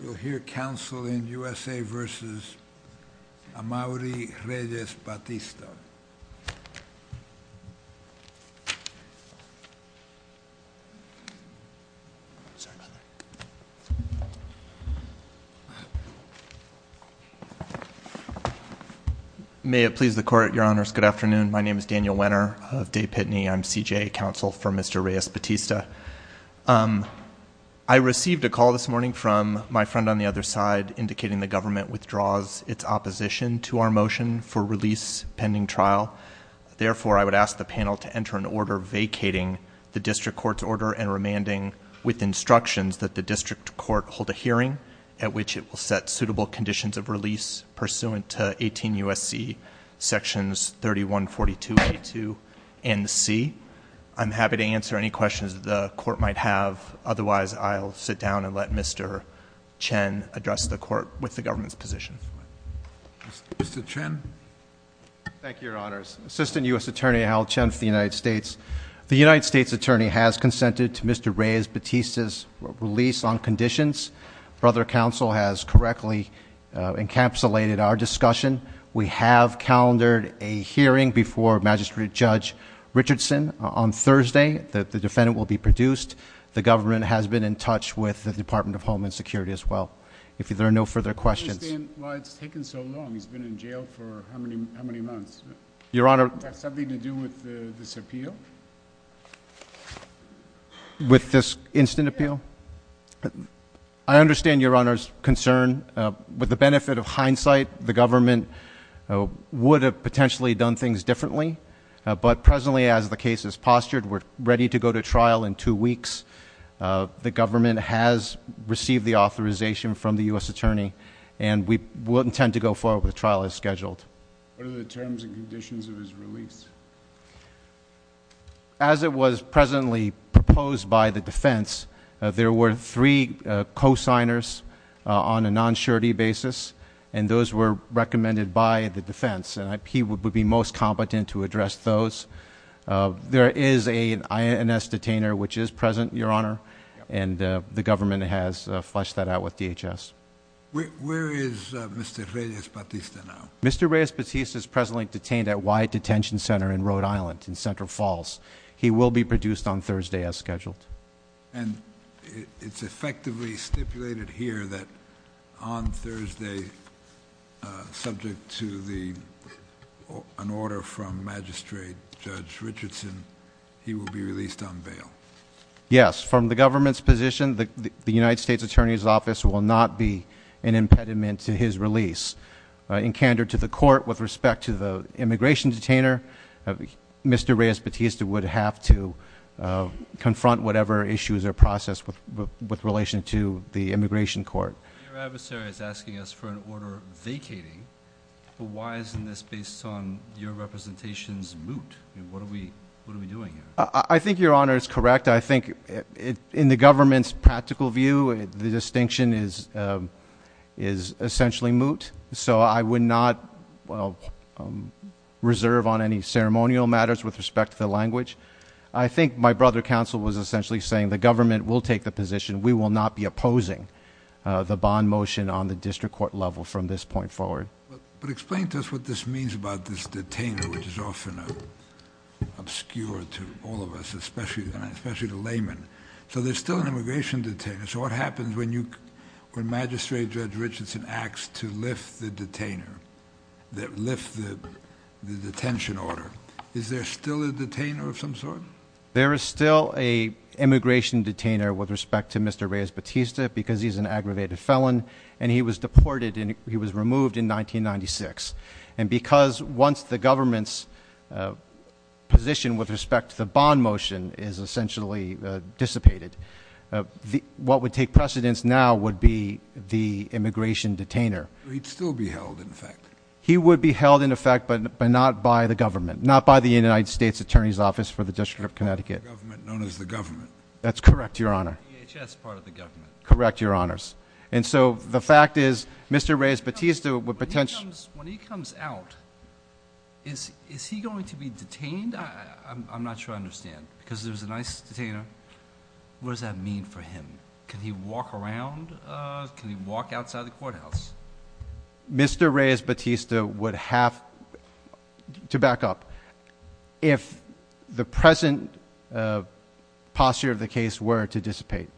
You'll hear counsel in USA v. Amauri Reyes-Batista. May it please the court, your honors, good afternoon. My name is Daniel Wenner of Day Pitney. I'm CJA counsel for Mr. Reyes-Batista. I received a call this morning from my friend on the other side indicating the government withdraws its opposition to our motion for release pending trial. Therefore I would ask the panel to enter an order vacating the district court's order and remanding with instructions that the district court hold a hearing at which it will set suitable conditions of release pursuant to 18 U.S.C. Sections 31, 42, A2, and C. I'm happy to answer any questions the court might have. Otherwise, I'll sit down and let Mr. Chen address the court with the government's position. Mr. Chen. Thank you, your honors. Assistant U.S. Attorney Hal Chen for the United States. The United States attorney has consented to Mr. Reyes-Batista's release on conditions. Brother counsel has correctly encapsulated our discussion. We have calendared a hearing before Magistrate Judge Richardson on Thursday. The defendant will be produced. The government has been in touch with the Department of Home and Security as well. If there are no further questions. I understand why it's taken so long. He's been in jail for how many months? Your honor. Does that have anything to do with this appeal? With this instant appeal? I understand your honor's concern. With the benefit of hindsight, the government would have potentially done things differently. But presently, as the case is postured, we're ready to go to trial in two weeks. The government has received the authorization from the U.S. attorney. And we intend to go forward with the trial as scheduled. What are the terms and conditions of his release? As it was presently proposed by the defense, there were three co-signers on a non-surety basis. And those were recommended by the defense. And he would be most competent to address those. There is an INS detainer which is present, your honor. And the government has fleshed that out with DHS. Where is Mr. Reyes-Batista now? Mr. Reyes-Batista is presently detained at Wyatt Detention Center in Rhode Island, in Central Falls. He will be produced on Thursday as scheduled. And it's effectively stipulated here that on Thursday, subject to an order from Magistrate Judge Richardson, he will be released on bail. Yes, from the government's position, the United States Attorney's Office will not be an impediment to his release. In candor to the court, with respect to the immigration detainer, Mr. Reyes-Batista would have to confront whatever issues are processed with relation to the immigration court. Your adversary is asking us for an order vacating. But why isn't this based on your representation's moot? What are we doing here? I think your honor is correct. I think in the government's practical view, the distinction is essentially moot. So I would not reserve on any ceremonial matters with respect to the language. I think my brother counsel was essentially saying the government will take the position. We will not be opposing the bond motion on the district court level from this point forward. But explain to us what this means about this detainer, which is often obscure to all of us, especially the layman. So there's still an immigration detainer. So what happens when Magistrate Judge Richardson acts to lift the detainer, that lift the detention order, is there still a detainer of some sort? There is still a immigration detainer with respect to Mr. Reyes-Batista because he's an aggravated felon and he was deported and he was removed in 1996. And because once the government's position with respect to the bond motion is essentially dissipated, what would take precedence now would be the immigration detainer. He'd still be held in effect. He would be held in effect, but not by the government, not by the United States Attorney's Office for the District of Connecticut. The government known as the government. That's correct, your honor. The DHS part of the government. Correct, your honors. And so the fact is, Mr. Reyes-Batista would potentially- When he comes out, is he going to be detained? I'm not sure I understand, because there's an ICE detainer. What does that mean for him? Can he walk around? Can he walk outside the courthouse? Mr. Reyes-Batista would have, to back up, if the present posture of the case were to dissipate,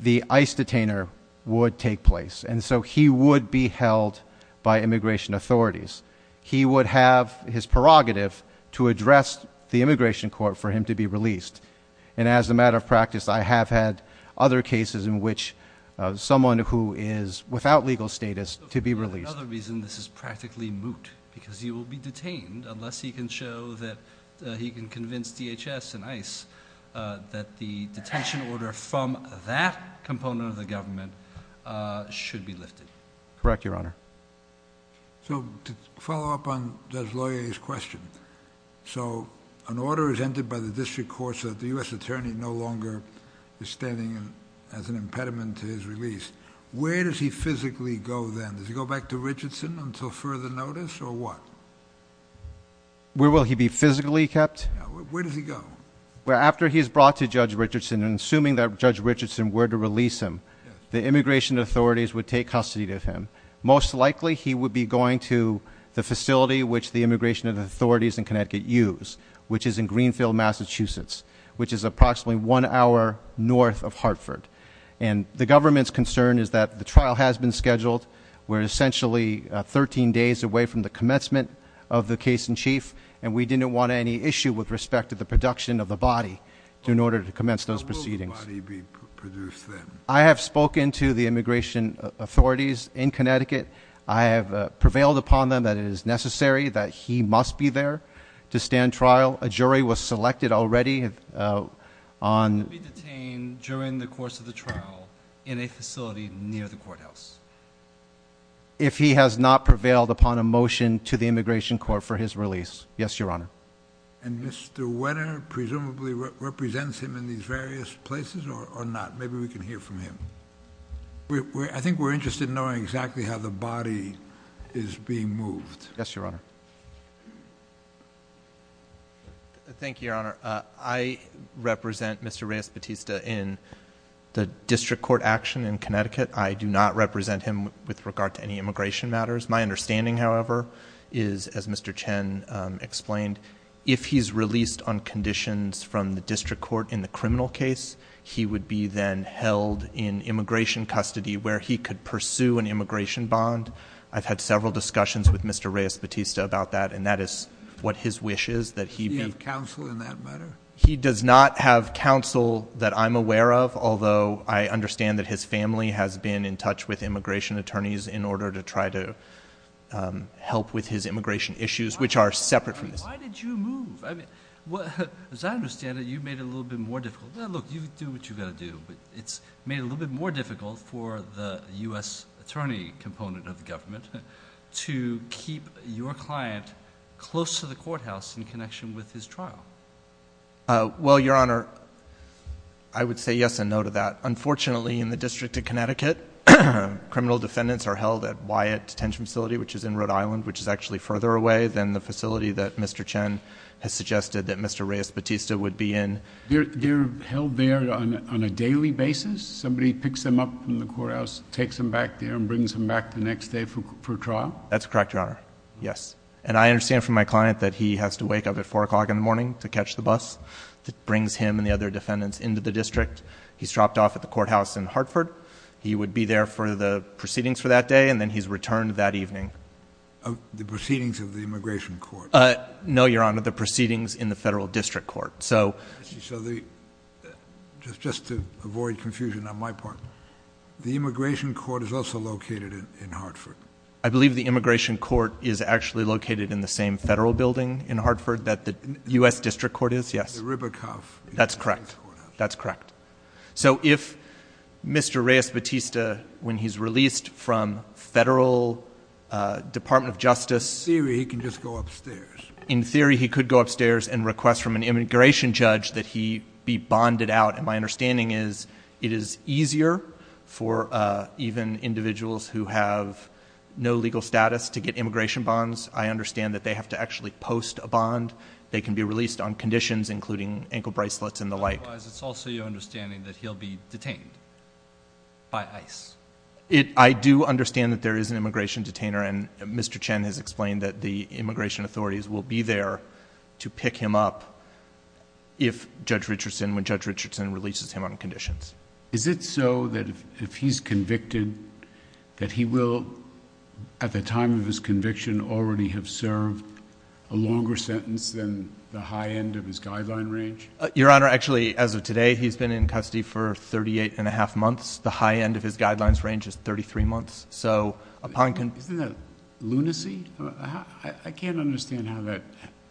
the ICE detainer would take place, and so he would be held by immigration authorities. He would have his prerogative to address the immigration court for him to be released. And as a matter of practice, I have had other cases in which someone who is without legal status to be released. Another reason this is practically moot, because he will be detained unless he can show that he can convince DHS and ICE that the detention order from that component of the government should be lifted. Correct, your honor. So to follow up on Judge Loyer's question, so an order is entered by the district court so that the US attorney no longer is standing as an impediment to his release. Where does he physically go then? Does he go back to Richardson until further notice, or what? Where will he be physically kept? Where does he go? Well, after he's brought to Judge Richardson, and assuming that Judge Richardson were to release him, the immigration authorities would take custody of him. Most likely, he would be going to the facility which the immigration authorities in Connecticut use, which is in Greenfield, Massachusetts, which is approximately one hour north of Hartford. And the government's concern is that the trial has been scheduled. We're essentially 13 days away from the commencement of the case in chief, and we didn't want any issue with respect to the production of the body in order to commence those proceedings. How will the body be produced then? I have spoken to the immigration authorities in Connecticut. I have prevailed upon them that it is necessary that he must be there to stand trial. A jury was selected already on- He will be detained during the course of the trial in a facility near the courthouse. If he has not prevailed upon a motion to the immigration court for his release. Yes, your honor. And Mr. Wenner presumably represents him in these various places or not? Maybe we can hear from him. I think we're interested in knowing exactly how the body is being moved. Yes, your honor. Thank you, your honor. I represent Mr. Reyes Batista in the district court action in Connecticut. I do not represent him with regard to any immigration matters. My understanding, however, is as Mr. Chen explained, if he's released on conditions from the district court in the criminal case, he would be then held in immigration custody where he could pursue an immigration bond. I've had several discussions with Mr. Reyes Batista about that, and that is what his wish is that he be- Do you have counsel in that matter? He does not have counsel that I'm aware of, although I understand that his family has been in help with his immigration issues, which are separate from this. Why did you move? I mean, as I understand it, you made it a little bit more difficult. Look, you do what you gotta do, but it's made it a little bit more difficult for the US attorney component of the government to keep your client close to the courthouse in connection with his trial. Well, your honor, I would say yes and no to that. Unfortunately, in the District of Connecticut, criminal defendants are held at Wyatt Detention Facility, which is in Rhode Island, which is actually further away than the facility that Mr. Chen has suggested that Mr. Reyes Batista would be in. They're held there on a daily basis? Somebody picks them up from the courthouse, takes them back there, and brings them back the next day for trial? That's correct, your honor, yes. And I understand from my client that he has to wake up at 4 o'clock in the morning to catch the bus that brings him and the other defendants into the district. He's dropped off at the courthouse in Hartford. He would be there for the proceedings for that day, and then he's returned that evening. The proceedings of the immigration court? No, your honor, the proceedings in the federal district court. So- So, just to avoid confusion on my part, the immigration court is also located in Hartford? I believe the immigration court is actually located in the same federal building in Hartford that the US district court is, yes. The Ribicoff. That's correct. That's correct. So if Mr. Reyes Batista, when he's released from federal Department of Justice- In theory, he can just go upstairs. In theory, he could go upstairs and request from an immigration judge that he be bonded out. And my understanding is it is easier for even individuals who have no legal status to get immigration bonds. I understand that they have to actually post a bond. They can be released on conditions including ankle bracelets and the like. Otherwise, it's also your understanding that he'll be detained by ICE? I do understand that there is an immigration detainer. And Mr. Chen has explained that the immigration authorities will be there to pick him up if Judge Richardson, when Judge Richardson releases him on conditions. Is it so that if he's convicted, that he will, at the time of his conviction, already have served a longer sentence than the high end of his guideline range? Your Honor, actually, as of today, he's been in custody for 38 and a half months. The high end of his guidelines range is 33 months. So upon- Isn't that lunacy? I can't understand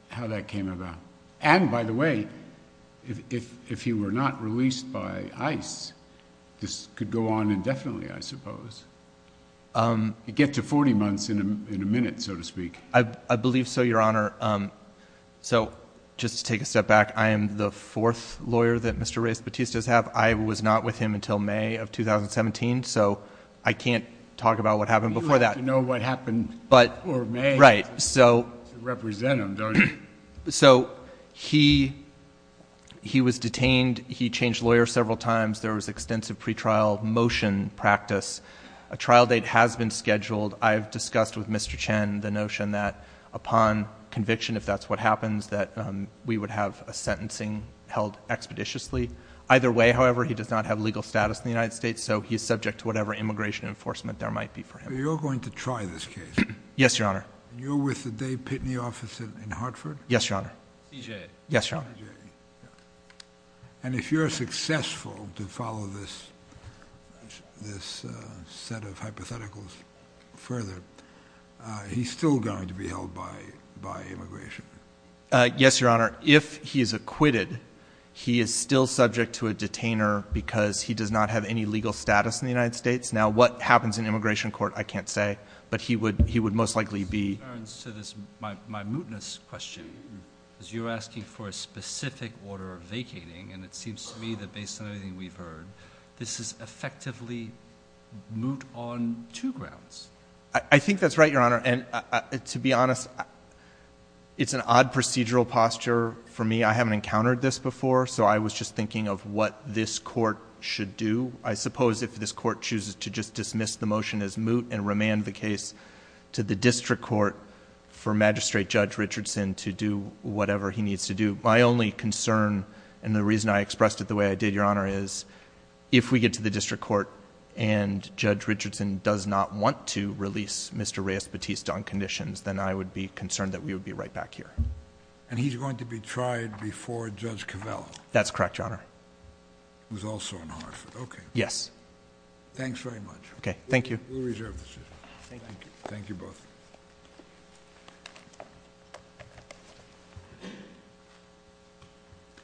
how that came about. And by the way, if he were not released by ICE, this could go on indefinitely, I suppose. You get to 40 months in a minute, so to speak. I believe so, Your Honor. So, just to take a step back, I am the fourth lawyer that Mr. Reyes-Batista's have. I was not with him until May of 2017, so I can't talk about what happened before that. You have to know what happened before May to represent him, don't you? So, he was detained, he changed lawyers several times, there was extensive pre-trial motion practice. A trial date has been scheduled. I've discussed with Mr. Chen the notion that upon conviction, if that's what happens, that we would have a sentencing held expeditiously. Either way, however, he does not have legal status in the United States, so he's subject to whatever immigration enforcement there might be for him. So you're going to try this case? Yes, Your Honor. And you're with the Dave Pitney office in Hartford? Yes, Your Honor. CJA? Yes, Your Honor. And if you're successful to follow this set of hypotheticals further, he's still going to be held by immigration? Yes, Your Honor. If he is acquitted, he is still subject to a detainer because he does not have any legal status in the United States. Now, what happens in immigration court, I can't say, but he would most likely be— This returns to my mootness question, because you're asking for a specific order of vacating, and it seems to me that based on everything we've heard, this is effectively moot on two grounds. I think that's right, Your Honor. And to be honest, it's an odd procedural posture for me. I haven't encountered this before, so I was just thinking of what this court should do. I suppose if this court chooses to just dismiss the motion as moot and remand the case to the district court for Magistrate Judge Richardson to do whatever he needs to do, my only concern, and the reason I expressed it the way I did, Your Honor, is if we get to the district court and Judge Richardson does not want to release Mr. Reyes-Baptiste on conditions, then I would be concerned that we would be right back here. And he's going to be tried before Judge Covello? That's correct, Your Honor. It was also in Hartford. Okay. Yes. Thanks very much. Okay. Thank you. We'll reserve the decision. Thank you. Thank you both.